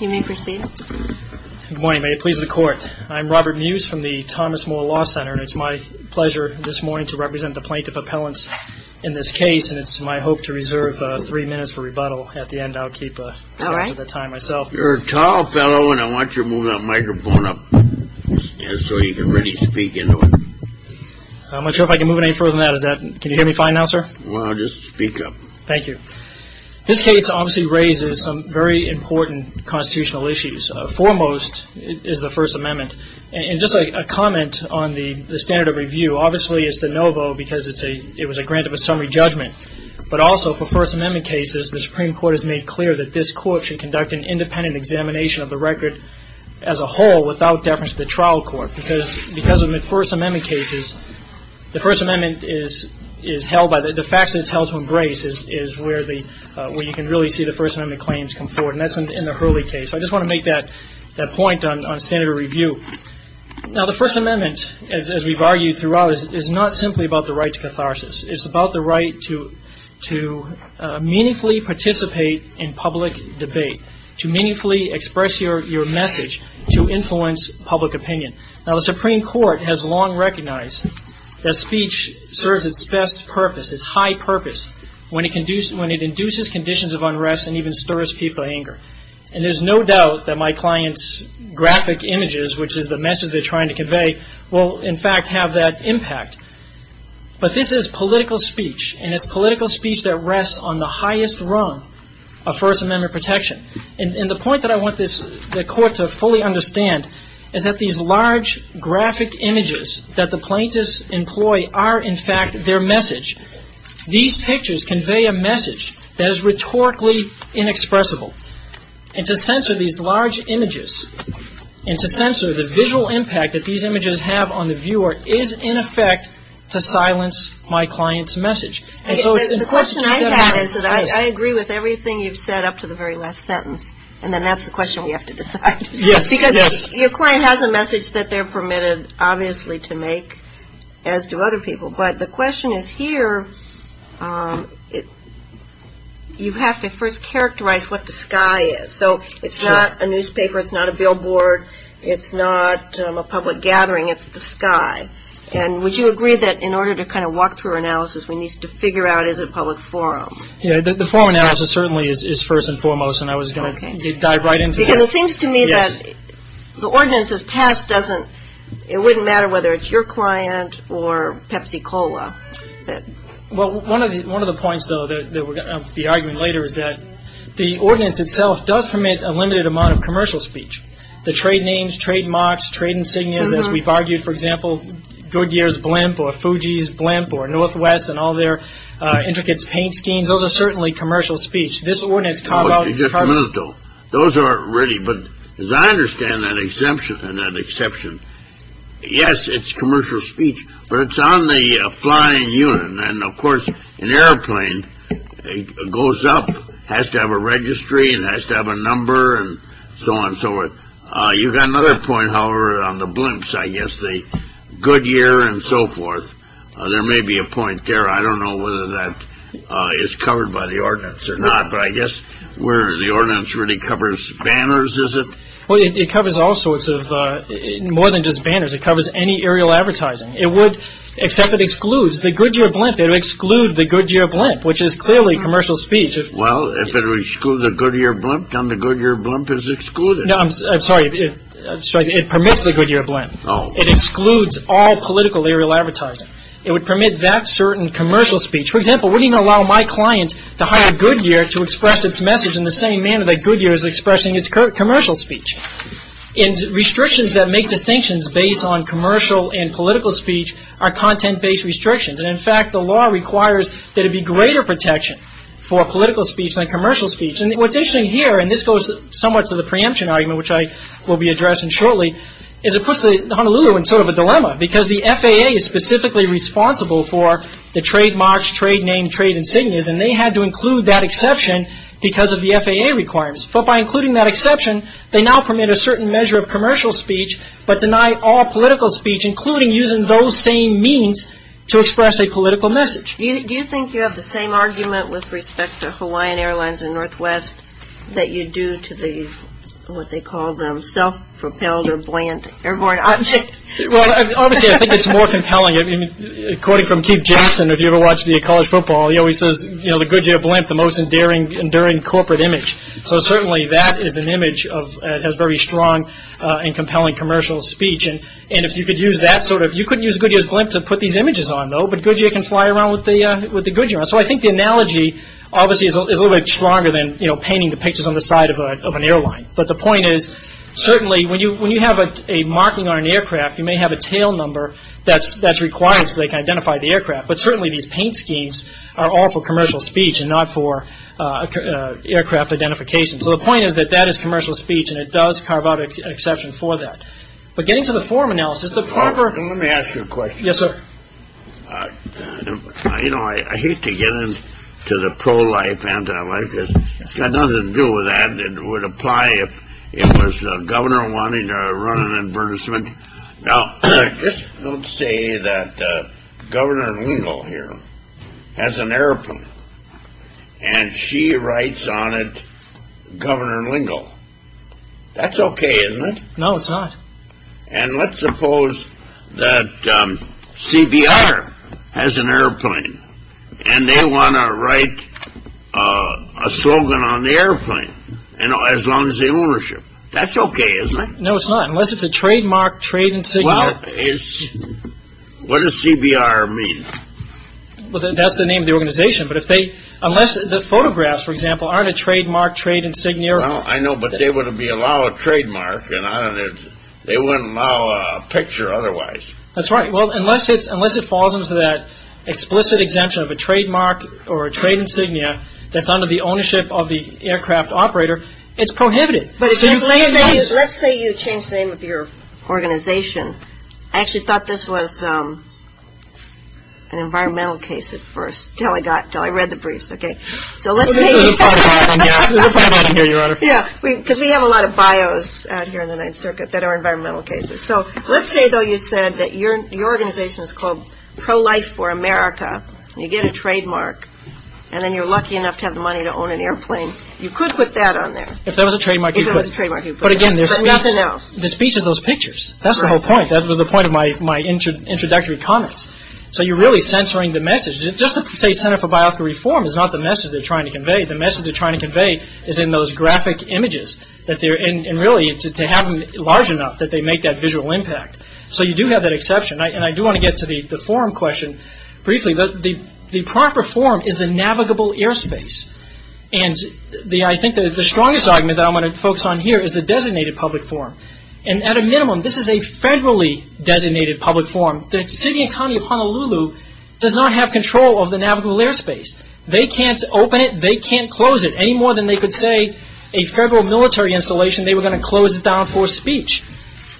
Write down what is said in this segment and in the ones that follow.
You may proceed. Good morning. May it please the Court. I'm Robert Muse from the Thomas Moore Law Center, and it's my pleasure this morning to represent the plaintiff appellants in this case, and it's my hope to reserve three minutes for rebuttal. At the end, I'll keep the time myself. You're a tall fellow, and I want you to move that microphone up so you can really speak into it. I'm not sure if I can move it any further than that. Can you hear me fine now, sir? Well, just speak up. Thank you. This case obviously raises some very important constitutional issues. Foremost is the First Amendment, and just a comment on the standard of review. Obviously, it's de novo because it was a grant of a summary judgment, but also for First Amendment cases, the Supreme Court has made clear that this Court should conduct an independent examination of the record as a whole without deference to the trial court. Because in the First Amendment cases, the First Amendment is held by the facts that it's held to embrace is where you can really see the First Amendment claims come forward, and that's in the Hurley case. I just want to make that point on standard of review. Now, the First Amendment, as we've argued throughout, is not simply about the right to catharsis. It's about the right to meaningfully participate in public debate, to meaningfully express your message, to influence public opinion. Now, the Supreme Court has long recognized that speech serves its best purpose, its high purpose, when it induces conditions of unrest and even stirs people's anger. And there's no doubt that my client's graphic images, which is the message they're trying to convey, will, in fact, have that impact. But this is political speech, and it's political speech that rests on the highest rung of First Amendment protection. And the point that I want the Court to fully understand is that these large graphic images that the plaintiffs employ are, in fact, their message. These pictures convey a message that is rhetorically inexpressible. And to censor these large images and to censor the visual impact that these images have on the viewer is, in effect, to silence my client's message. And so it's important to remember this. The question I have is that I agree with everything you've said up to the very last sentence, and then that's the question we have to decide. Yes, yes. Because your client has a message that they're permitted, obviously, to make, as do other people. But the question is here, you have to first characterize what the sky is. So it's not a newspaper, it's not a billboard, it's not a public gathering, it's the sky. And would you agree that in order to kind of walk through our analysis, we need to figure out, is it a public forum? Yeah, the forum analysis certainly is first and foremost, and I was going to dive right into that. It seems to me that the ordinances passed doesn't, it wouldn't matter whether it's your client or Pepsi Cola. Well, one of the points, though, of the argument later is that the ordinance itself does permit a limited amount of commercial speech. The trade names, trade marks, trade insignias, as we've argued, for example, Goodyear's blimp or Fuji's blimp or Northwest and all their intricate paint schemes, those are certainly commercial speech. Just a minute, though. Those aren't really, but as I understand that exemption and that exception. Yes, it's commercial speech, but it's on the flying unit. And of course, an airplane goes up, has to have a registry and has to have a number and so on and so forth. You've got another point, however, on the blimps, I guess, the Goodyear and so forth. There may be a point there. I don't know whether that is covered by the ordinance or not. But I guess where the ordinance really covers banners, is it? Well, it covers all sorts of more than just banners. It covers any aerial advertising. It would, except it excludes the Goodyear blimp. It would exclude the Goodyear blimp, which is clearly commercial speech. Well, if it excludes the Goodyear blimp, then the Goodyear blimp is excluded. No, I'm sorry. It permits the Goodyear blimp. It excludes all political aerial advertising. It would permit that certain commercial speech. For example, wouldn't it allow my client to hire Goodyear to express its message in the same manner that Goodyear is expressing its commercial speech? And restrictions that make distinctions based on commercial and political speech are content-based restrictions. And in fact, the law requires that it be greater protection for political speech than commercial speech. And what's interesting here, and this goes somewhat to the preemption argument, which I will be addressing shortly, is it puts the Honolulu in sort of a dilemma. Because the FAA is specifically responsible for the trademarks, trade name, trade insignias. And they had to include that exception because of the FAA requirements. But by including that exception, they now permit a certain measure of commercial speech, but deny all political speech, including using those same means to express a political message. Do you think you have the same argument with respect to Hawaiian Airlines and Northwest that you do to the, what they call them, self-propelled or buoyant airborne object? Well, obviously, I think it's more compelling. I mean, according from Keith Jameson, if you ever watch the college football, he always says, you know, the Goodyear blimp, the most enduring corporate image. So certainly that is an image that has very strong and compelling commercial speech. And if you could use that sort of – you couldn't use Goodyear's blimp to put these images on, though. But Goodyear can fly around with the Goodyear. So I think the analogy, obviously, is a little bit stronger than, you know, painting the pictures on the side of an airline. But the point is, certainly when you have a marking on an aircraft, you may have a tail number that's required so they can identify the aircraft. But certainly these paint schemes are all for commercial speech and not for aircraft identification. So the point is that that is commercial speech, and it does carve out an exception for that. But getting to the form analysis, the proper – You know, I hate to get into the pro-life, anti-life. It's got nothing to do with that. It would apply if it was a governor wanting to run an advertisement. Now, just don't say that Governor Lingle here has an airplane, and she writes on it Governor Lingle. That's okay, isn't it? No, it's not. And let's suppose that CBR has an airplane, and they want to write a slogan on the airplane as long as the ownership. That's okay, isn't it? No, it's not, unless it's a trademark trade insignia. What does CBR mean? Well, that's the name of the organization. But if they – unless the photographs, for example, aren't a trademark trade insignia. Well, I know, but they wouldn't be allowed a trademark, and they wouldn't allow a picture otherwise. That's right. Well, unless it falls into that explicit exemption of a trademark or a trade insignia that's under the ownership of the aircraft operator, it's prohibited. Let's say you change the name of your organization. I actually thought this was an environmental case at first until I read the briefs, okay? There's a problem here, Your Honor. Yeah, because we have a lot of bios out here in the Ninth Circuit that are environmental cases. So let's say, though, you said that your organization is called Pro-Life for America, and you get a trademark, and then you're lucky enough to have the money to own an airplane. You could put that on there. If there was a trademark, you could. If there was a trademark, you could. But, again, there's nothing else. The speech is those pictures. That's the whole point. That was the point of my introductory comments. So you're really censoring the message. Just to say Center for Bioethical Reform is not the message they're trying to convey. The message they're trying to convey is in those graphic images, and really to have them large enough that they make that visual impact. So you do have that exception. And I do want to get to the forum question briefly. The proper form is the navigable airspace. And I think the strongest argument that I'm going to focus on here is the designated public form. And at a minimum, this is a federally designated public form. The city and county of Honolulu does not have control of the navigable airspace. They can't open it. They can't close it. Any more than they could say a federal military installation, they were going to close it down for speech.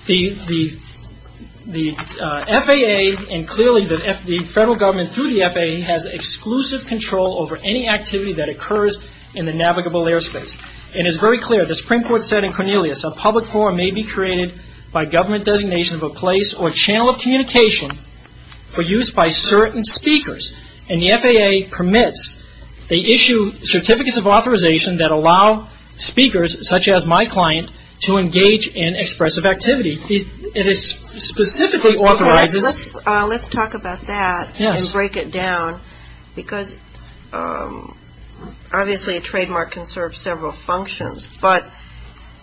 The FAA, and clearly the federal government through the FAA, has exclusive control over any activity that occurs in the navigable airspace. And it's very clear. The Supreme Court said in Cornelius, a public form may be created by government designation of a place or channel of communication for use by certain speakers. And the FAA permits. They issue certificates of authorization that allow speakers, such as my client, to engage in expressive activity. And it specifically authorizes. Let's talk about that and break it down, because obviously a trademark can serve several functions. But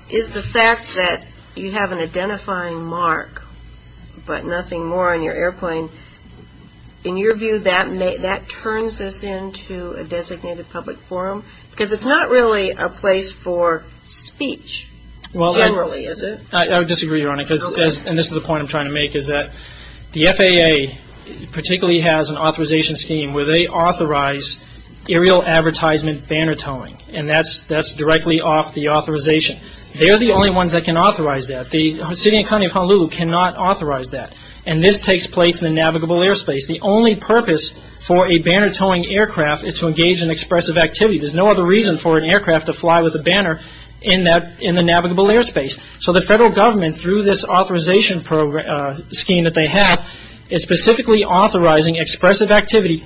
is the fact that you have an identifying mark but nothing more on your airplane, in your view that turns this into a designated public form? Because it's not really a place for speech generally, is it? I disagree, Your Honor. And this is the point I'm trying to make, is that the FAA particularly has an authorization scheme where they authorize aerial advertisement banner towing. And that's directly off the authorization. They're the only ones that can authorize that. The city and county of Honolulu cannot authorize that. And this takes place in the navigable airspace. The only purpose for a banner towing aircraft is to engage in expressive activity. There's no other reason for an aircraft to fly with a banner in the navigable airspace. So the federal government, through this authorization scheme that they have, is specifically authorizing expressive activity,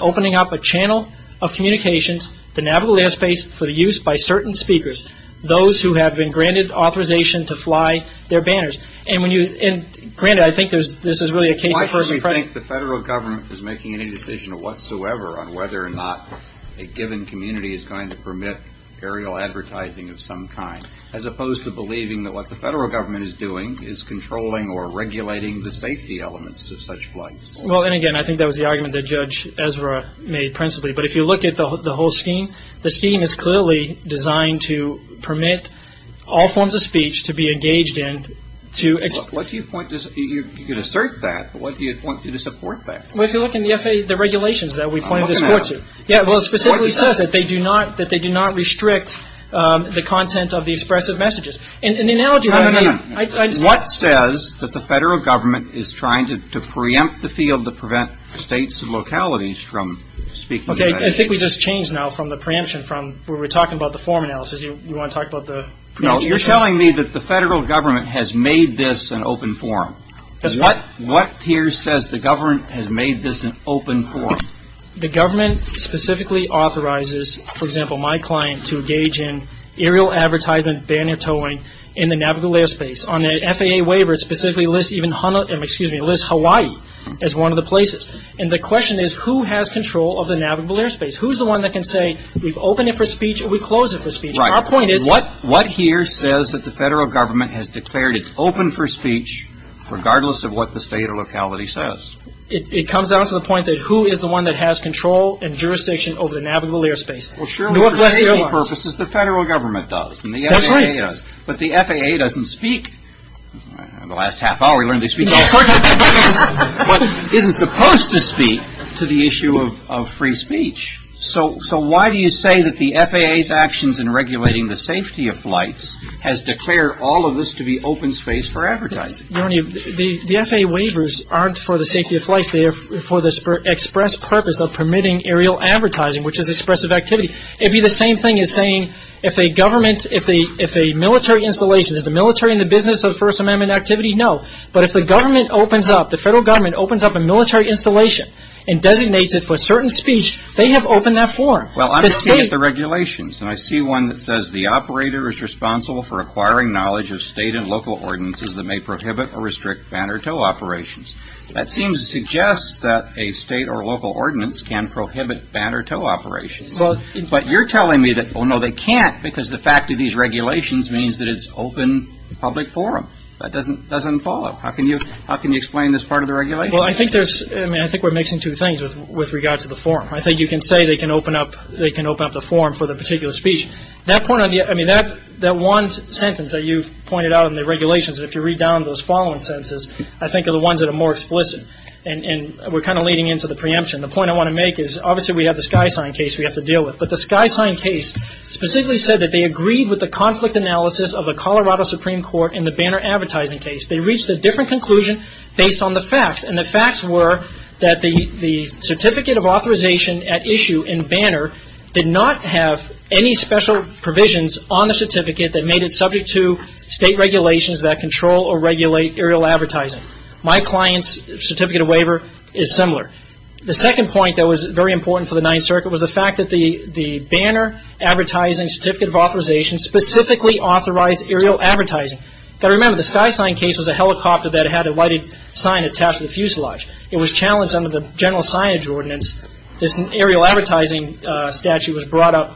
opening up a channel of communications, the navigable airspace for the use by certain speakers, those who have been granted authorization to fly their banners. And granted, I think this is really a case of first impression. Why do you think the federal government is making any decision whatsoever on whether or not a given community is going to permit aerial advertising of some kind, as opposed to believing that what the federal government is doing is controlling or regulating the safety elements of such flights? Well, and again, I think that was the argument that Judge Ezra made principally. But if you look at the whole scheme, the scheme is clearly designed to permit all forms of speech to be engaged in. Look, what do you point to? You could assert that, but what do you point to to support that? Well, if you look in the regulations that we pointed this forward to. I'm looking at them. Yeah, well, it specifically says that they do not restrict the content of the expressive messages. And the analogy that I'm getting... What says that the federal government is trying to preempt the field to prevent states and localities from speaking... Okay, I think we just changed now from the preemption from where we're talking about the form analysis. You want to talk about the... No, you're telling me that the federal government has made this an open forum. What here says the government has made this an open forum? The government specifically authorizes, for example, my client to engage in aerial advertisement banner towing in the navigable airspace on an FAA waiver that specifically lists Hawaii as one of the places. And the question is, who has control of the navigable airspace? Who's the one that can say, we've opened it for speech and we've closed it for speech? Our point is... What here says that the federal government has declared it's open for speech regardless of what the state or locality says? It comes down to the point that who is the one that has control and jurisdiction over the navigable airspace? Well, surely for FAA purposes, the federal government does and the FAA does. But the FAA doesn't speak. In the last half hour we learned they speak. No, of course not. But isn't supposed to speak to the issue of free speech. So why do you say that the FAA's actions in regulating the safety of flights has declared all of this to be open space for advertising? The FAA waivers aren't for the safety of flights. They are for the express purpose of permitting aerial advertising, which is expressive activity. It would be the same thing as saying if a government, if a military installation, is the military in the business of First Amendment activity? No. But if the government opens up, the federal government opens up a military installation and designates it for certain speech, they have opened that forum. Well, I'm looking at the regulations, and I see one that says the operator is responsible for acquiring knowledge of state and local ordinances that may prohibit or restrict band or tow operations. That seems to suggest that a state or local ordinance can prohibit band or tow operations. But you're telling me that, oh, no, they can't, because the fact of these regulations means that it's open public forum. That doesn't follow. How can you explain this part of the regulation? Well, I think there's, I mean, I think we're mixing two things with regard to the forum. I think you can say they can open up the forum for the particular speech. That point, I mean, that one sentence that you've pointed out in the regulations, if you read down those following sentences, I think are the ones that are more explicit. And we're kind of leading into the preemption. The point I want to make is obviously we have the SkySign case we have to deal with, but the SkySign case specifically said that they agreed with the conflict analysis of the Colorado Supreme Court in the banner advertising case. They reached a different conclusion based on the facts, and the facts were that the certificate of authorization at issue in banner did not have any special provisions on the certificate that made it subject to state regulations that control or regulate aerial advertising. My client's certificate of waiver is similar. The second point that was very important for the Ninth Circuit was the fact that the banner advertising certificate of authorization specifically authorized aerial advertising. You've got to remember, the SkySign case was a helicopter that had a white sign attached to the fuselage. It was challenged under the general signage ordinance. This aerial advertising statute was brought up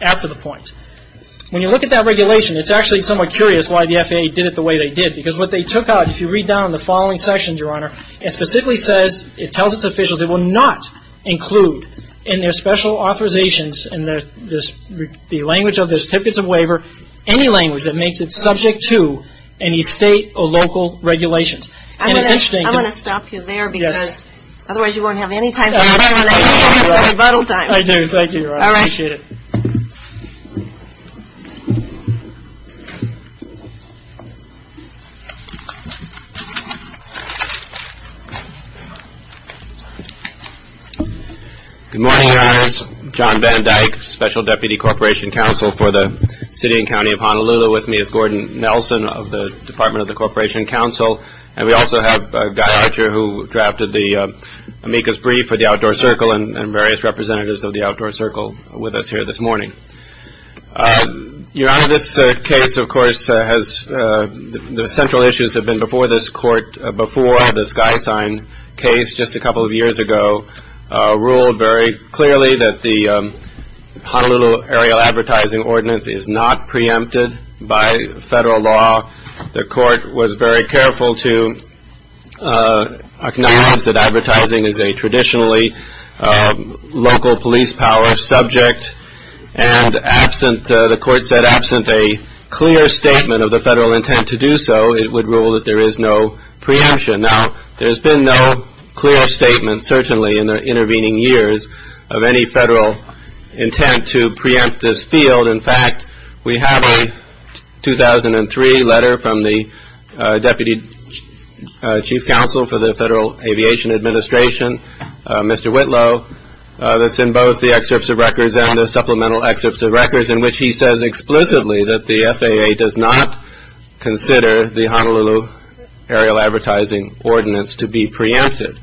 after the point. When you look at that regulation, it's actually somewhat curious why the FAA did it the way they did, because what they took out, if you read down the following sections, Your Honor, it specifically says, it tells its officials, it will not include in their special authorizations in the language of the certificates of waiver any language that makes it subject to any state or local regulations. And it's interesting to me. I'm going to stop you there, because otherwise you won't have any time. I do. Thank you, Your Honor. I appreciate it. Good morning, Your Honors. John Van Dyke, Special Deputy Corporation Counsel for the City and County of Honolulu with me. It's Gordon Nelson of the Department of the Corporation Counsel. And we also have Guy Archer, who drafted the amicus brief for the Outdoor Circle and various representatives of the Outdoor Circle with us here this morning. Your Honor, this case, of course, has the central issues have been before this court, before the SkySign case just a couple of years ago, ruled very clearly that the Honolulu aerial advertising ordinance is not preempted by federal law. The court was very careful to acknowledge that advertising is a traditionally local police power subject. And absent, the court said, absent a clear statement of the federal intent to do so, it would rule that there is no preemption. Now, there's been no clear statement, certainly in the intervening years, of any federal intent to preempt this field. In fact, we have a 2003 letter from the Deputy Chief Counsel for the Federal Aviation Administration, Mr. Whitlow, that's in both the excerpts of records and the supplemental excerpts of records in which he says explicitly that the FAA does not consider the Honolulu aerial advertising ordinance to be preempted.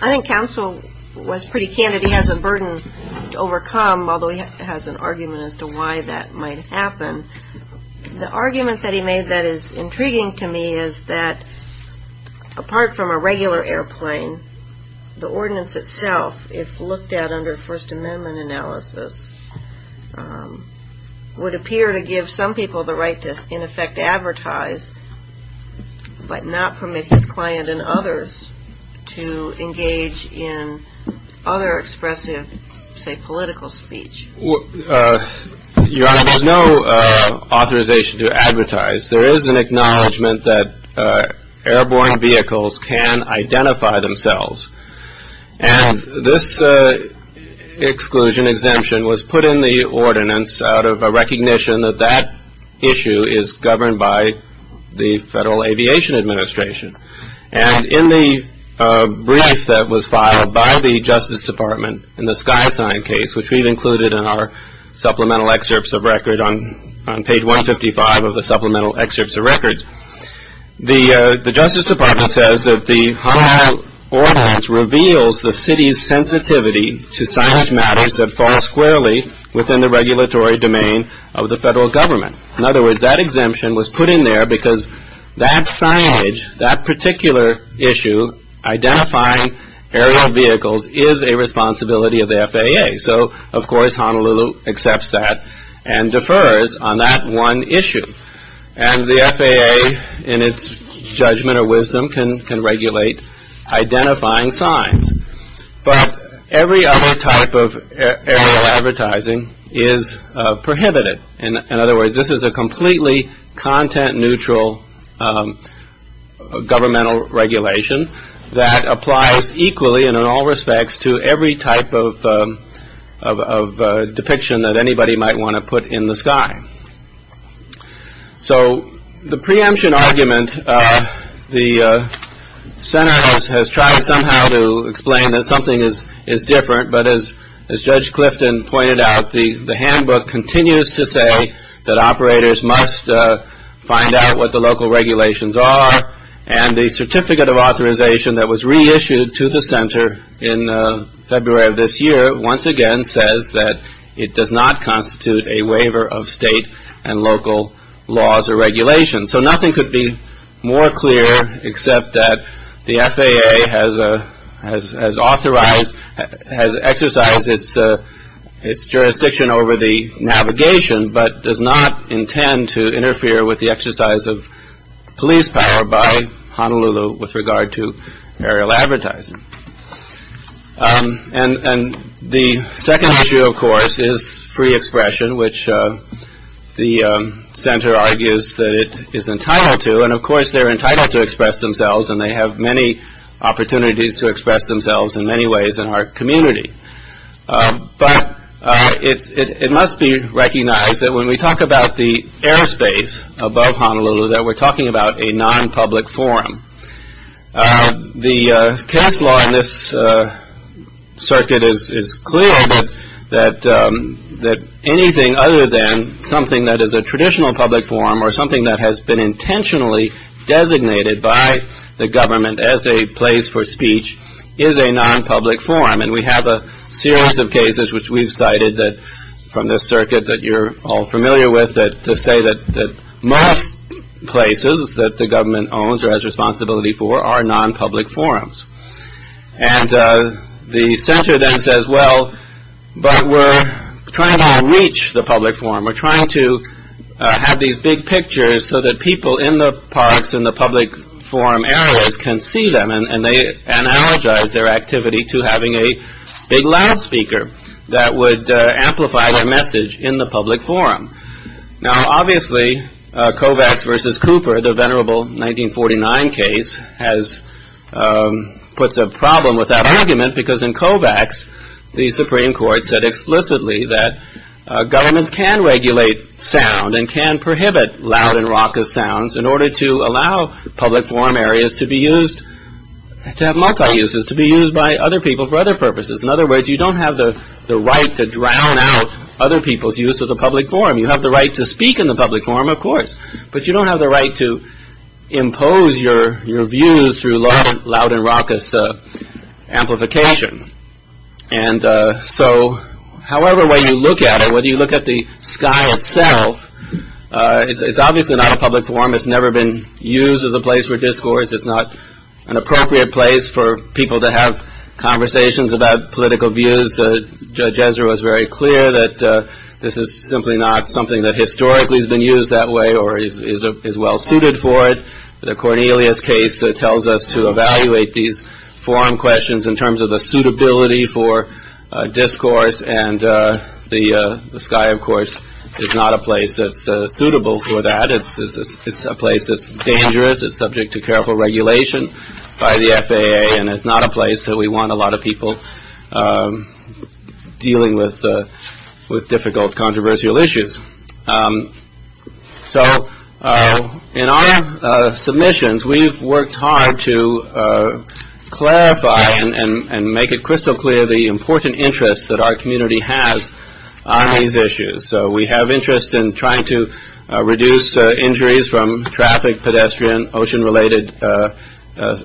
I think counsel was pretty candid. He has a burden to overcome, although he has an argument as to why that might happen. The argument that he made that is intriguing to me is that, apart from a regular airplane, the ordinance itself, if looked at under First Amendment analysis, would appear to give some people the right to, in effect, advertise, but not permit his client and others to engage in other expressive, say, political speech. Your Honor, there's no authorization to advertise. There is an acknowledgment that airborne vehicles can identify themselves. And this exclusion exemption was put in the ordinance out of a recognition that that issue is governed by the Federal Aviation Administration. And in the brief that was filed by the Justice Department in the SkySign case, which we've included in our supplemental excerpts of record on page 155 of the supplemental excerpts of records, the Justice Department says that the Honolulu ordinance reveals the city's sensitivity to science matters that fall squarely within the regulatory domain of the federal government. In other words, that exemption was put in there because that signage, that particular issue, identifying aerial vehicles, is a responsibility of the FAA. So, of course, Honolulu accepts that and defers on that one issue. And the FAA, in its judgment or wisdom, can regulate identifying signs. But every other type of aerial advertising is prohibited. In other words, this is a completely content-neutral governmental regulation that applies equally and in all respects to every type of depiction that anybody might want to put in the sky. So the preemption argument, the center has tried somehow to explain that something is different. But as Judge Clifton pointed out, the handbook continues to say that operators must find out what the local regulations are. And the certificate of authorization that was reissued to the center in February of this year once again says that it does not constitute a waiver of state and local laws or regulations. So nothing could be more clear except that the FAA has authorized, has exercised its jurisdiction over the navigation but does not intend to interfere with the exercise of police power by Honolulu with regard to aerial advertising. And the second issue, of course, is free expression, which the center argues that it is entitled to. And, of course, they're entitled to express themselves, and they have many opportunities to express themselves in many ways in our community. But it must be recognized that when we talk about the airspace above Honolulu, that we're talking about a non-public forum. The case law in this circuit is clear that anything other than something that is a traditional public forum or something that has been intentionally designated by the government as a place for speech is a non-public forum. And we have a series of cases, which we've cited from this circuit that you're all familiar with, to say that most places that the government owns or has responsibility for are non-public forums. And the center then says, well, but we're trying to reach the public forum. We're trying to have these big pictures so that people in the parks and the public forum areas can see them. And they analogize their activity to having a big loudspeaker that would amplify their message in the public forum. Now, obviously, Kovacs versus Cooper, the venerable 1949 case, puts a problem with that argument, because in Kovacs, the Supreme Court said explicitly that governments can regulate sound and can prohibit loud and raucous sounds in order to allow public forum areas to be used, to have multi-uses, to be used by other people for other purposes. In other words, you don't have the right to drown out other people's use of the public forum. You have the right to speak in the public forum, of course, but you don't have the right to impose your views through loud and raucous amplification. And so, however, when you look at it, whether you look at the sky itself, it's obviously not a public forum. It's never been used as a place for discourse. It's not an appropriate place for people to have conversations about political views. Judge Ezra was very clear that this is simply not something that historically has been used that way or is well suited for it. The Cornelius case tells us to evaluate these forum questions in terms of a suitability for discourse, and the sky, of course, is not a place that's suitable for that. It's a place that's dangerous. It's subject to careful regulation by the FAA, and it's not a place that we want a lot of people dealing with difficult, controversial issues. So in our submissions, we've worked hard to clarify and make it crystal clear the important interests that our community has on these issues. So we have interest in trying to reduce injuries from traffic, pedestrian, ocean-related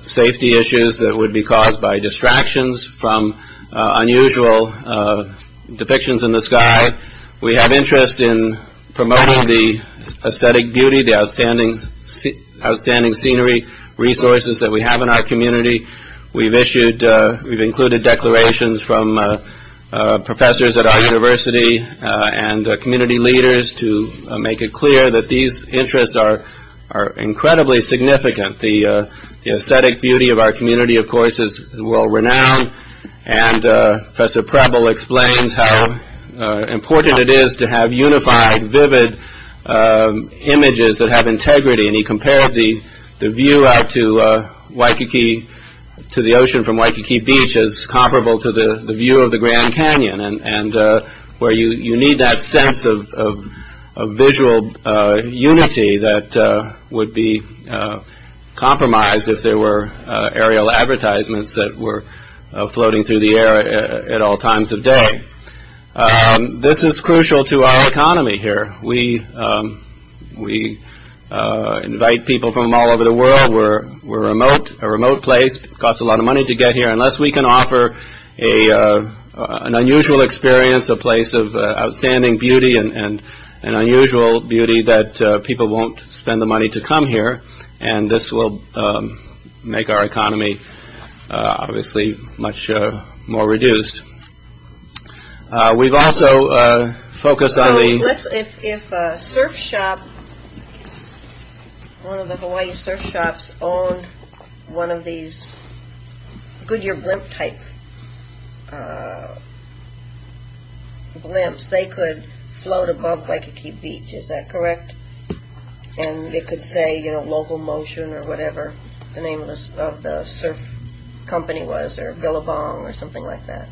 safety issues that would be caused by distractions from unusual depictions in the sky. We have interest in promoting the aesthetic beauty, the outstanding scenery resources that we have in our community. We've included declarations from professors at our university and community leaders to make it clear that these interests are incredibly significant. The aesthetic beauty of our community, of course, is world-renowned, and Professor Preble explains how important it is to have unified, vivid images that have integrity, and he compared the view out to the ocean from Waikiki Beach as comparable to the view of the Grand Canyon, where you need that sense of visual unity that would be compromised if there were aerial advertisements that were floating through the air at all times of day. This is crucial to our economy here. We invite people from all over the world. We're remote. A remote place costs a lot of money to get here unless we can offer an unusual experience, a place of outstanding beauty and an unusual beauty that people won't spend the money to come here, and this will make our economy obviously much more reduced. We've also focused on the... If a surf shop, one of the Hawaii surf shops, owned one of these Goodyear Blimp-type blimps, they could float above Waikiki Beach, is that correct? And it could say, you know, local motion or whatever the name of the surf company was, or Billabong or something like that.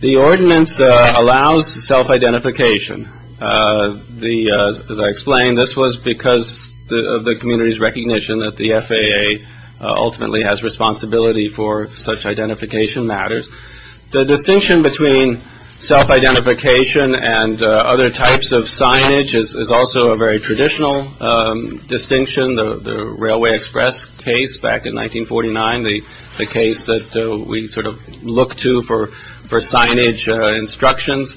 The ordinance allows self-identification. As I explained, this was because of the community's recognition that the FAA ultimately has responsibility for such identification matters. The distinction between self-identification and other types of signage is also a very traditional distinction. The Railway Express case back in 1949, the case that we sort of look to for signage instructions,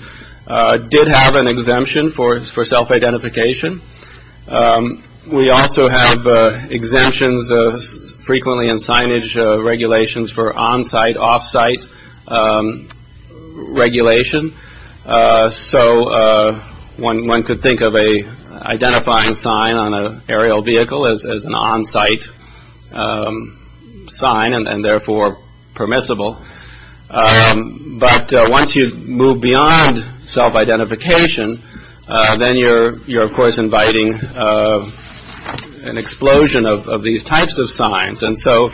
did have an exemption for self-identification. We also have exemptions frequently in signage regulations for on-site, off-site regulation. So one could think of an identifying sign on an aerial vehicle as an on-site sign and therefore permissible. But once you move beyond self-identification, then you're of course inviting an explosion of these types of signs. And so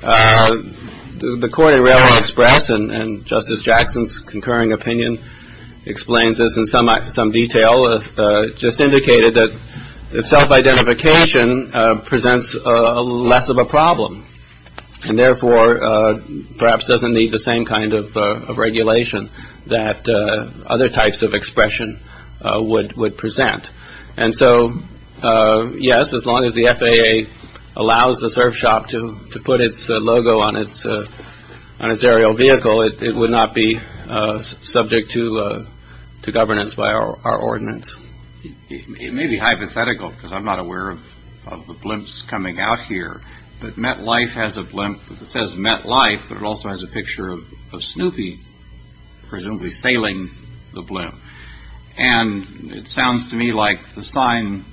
the court in Railway Express, and Justice Jackson's concurring opinion explains this in some detail, just indicated that self-identification presents less of a problem and therefore perhaps doesn't need the same kind of regulation that other types of expression would present. And so, yes, as long as the FAA allows the surf shop to put its logo on its aerial vehicle, it would not be subject to governance by our ordinance. It may be hypothetical, because I'm not aware of the blimps coming out here, but MetLife has a blimp that says MetLife, but it also has a picture of Snoopy presumably sailing the blimp. And it sounds to me like the sign,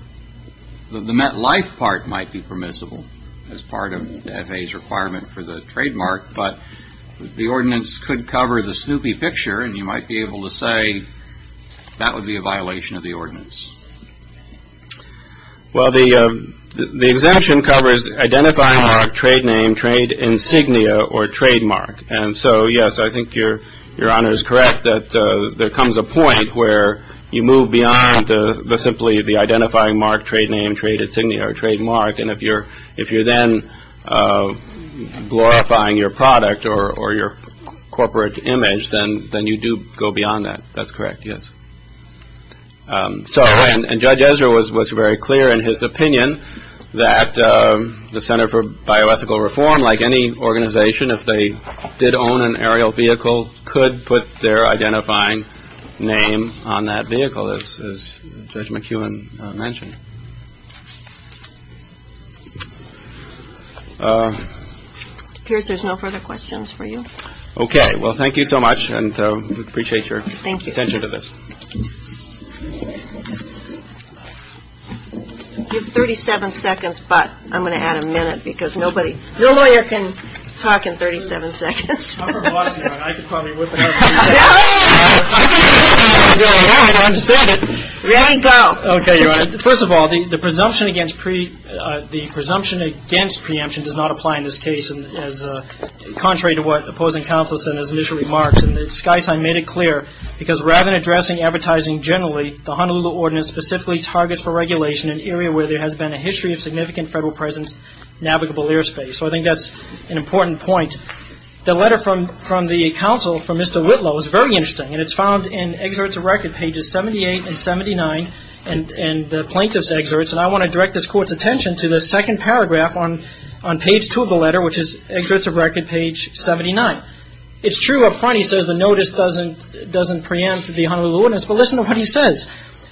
the MetLife part might be permissible as part of the FAA's requirement for the trademark, but the ordinance could cover the Snoopy picture, and you might be able to say that would be a violation of the ordinance. Well, the exemption covers identifying mark, trade name, trade insignia, or trademark. And so, yes, I think Your Honor is correct that there comes a point where you move beyond simply the identifying mark, trade name, trade insignia, or trademark, and if you're then glorifying your product or your corporate image, then you do go beyond that. That's correct, yes. And Judge Ezra was very clear in his opinion that the Center for Bioethical Reform, like any organization, if they did own an aerial vehicle, could put their identifying name on that vehicle, as Judge McEwen mentioned. It appears there's no further questions for you. Okay. Well, thank you so much, and we appreciate your attention to this. You have 37 seconds, but I'm going to add a minute because nobody ñ no lawyer can talk in 37 seconds. I'm a lawyer, Your Honor. I could probably whip it up. Really? I don't understand it. Ready? Go. Okay, Your Honor. First of all, the presumption against preemption does not apply in this case, contrary to what opposing counsel said in his initial remarks. And the sky sign made it clear because rather than addressing advertising generally, the Honolulu Ordinance specifically targets for regulation an area where there has been a history of significant federal presence, navigable airspace. So I think that's an important point. The letter from the counsel, from Mr. Whitlow, is very interesting, and it's found in Excerpts of Record, pages 78 and 79, and the plaintiff's excerpts, and I want to direct this Court's attention to the second paragraph on page 2 of the letter, which is Excerpts of Record, page 79. It's true up front he says the notice doesn't preempt the Honolulu Ordinance, but listen to what he says.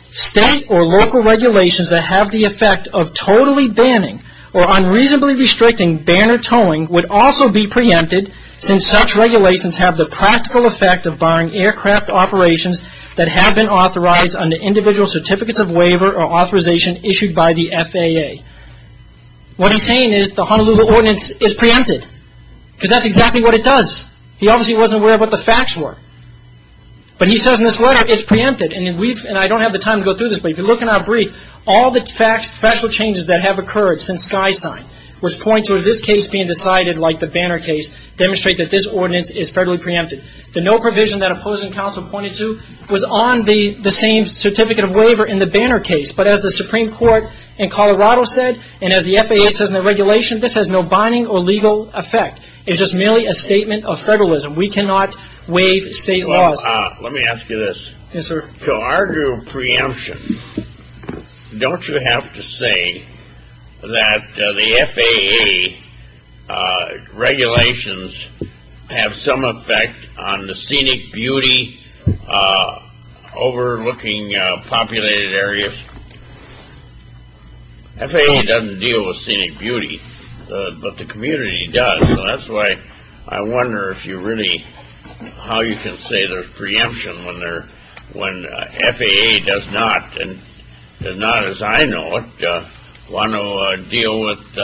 State or local regulations that have the effect of totally banning or unreasonably restricting banner towing would also be preempted since such regulations have the practical effect of barring aircraft operations that have been authorized under individual certificates of waiver or authorization issued by the FAA. What he's saying is the Honolulu Ordinance is preempted, because that's exactly what it does. He obviously wasn't aware of what the facts were. But he says in this letter it's preempted, and I don't have the time to go through this, but if you look in our brief, all the facts, special changes that have occurred since Sky Sign, which point to this case being decided like the banner case, demonstrate that this ordinance is federally preempted. The no provision that opposing counsel pointed to was on the same certificate of waiver in the banner case, but as the Supreme Court in Colorado said, and as the FAA says in the regulation, this has no binding or legal effect. It's just merely a statement of federalism. We cannot waive state laws. Let me ask you this. Yes, sir. To argue preemption, don't you have to say that the FAA regulations have some effect on the scenic beauty overlooking populated areas? FAA doesn't deal with scenic beauty, but the community does. So that's why I wonder if you really, how you can say there's preemption when FAA does not, and not as I know it, want to deal with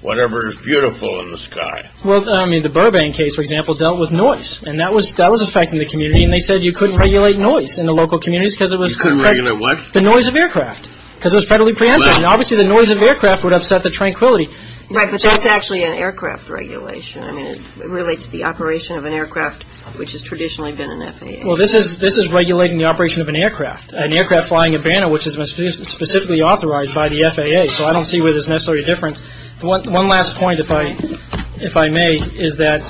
whatever is beautiful in the sky. Well, I mean, the Burbank case, for example, dealt with noise, and that was affecting the community, and they said you couldn't regulate noise in the local communities because it was... You couldn't regulate what? The noise of aircraft because it was federally preempted, and obviously the noise of aircraft would upset the tranquility. Right, but that's actually an aircraft regulation. I mean, it relates to the operation of an aircraft, which has traditionally been an FAA. Well, this is regulating the operation of an aircraft, an aircraft flying a banner, which is specifically authorized by the FAA, so I don't see where there's necessarily a difference. One last point, if I may, is that,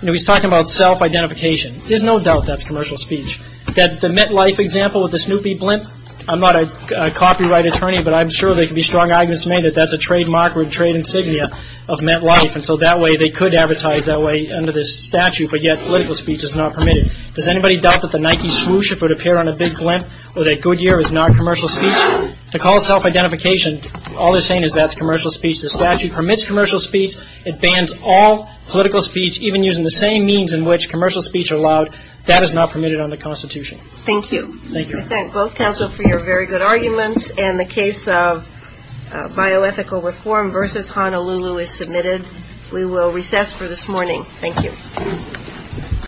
you know, he's talking about self-identification. There's no doubt that's commercial speech. The MetLife example with the Snoopy blimp, I'm not a copyright attorney, but I'm sure there could be strong arguments made that that's a trademark or a trade insignia of MetLife, and so that way they could advertise that way under this statute, but yet political speech is not permitted. Does anybody doubt that the Nike swoosh-up would appear on a big blimp, or that Goodyear is not commercial speech? To call self-identification, all they're saying is that's commercial speech. The statute permits commercial speech. It bans all political speech, even using the same means in which commercial speech is allowed. That is not permitted under the Constitution. Thank you. Thank you. I thank both counsel for your very good arguments, and the case of bioethical reform versus Honolulu is submitted. We will recess for this morning. Thank you.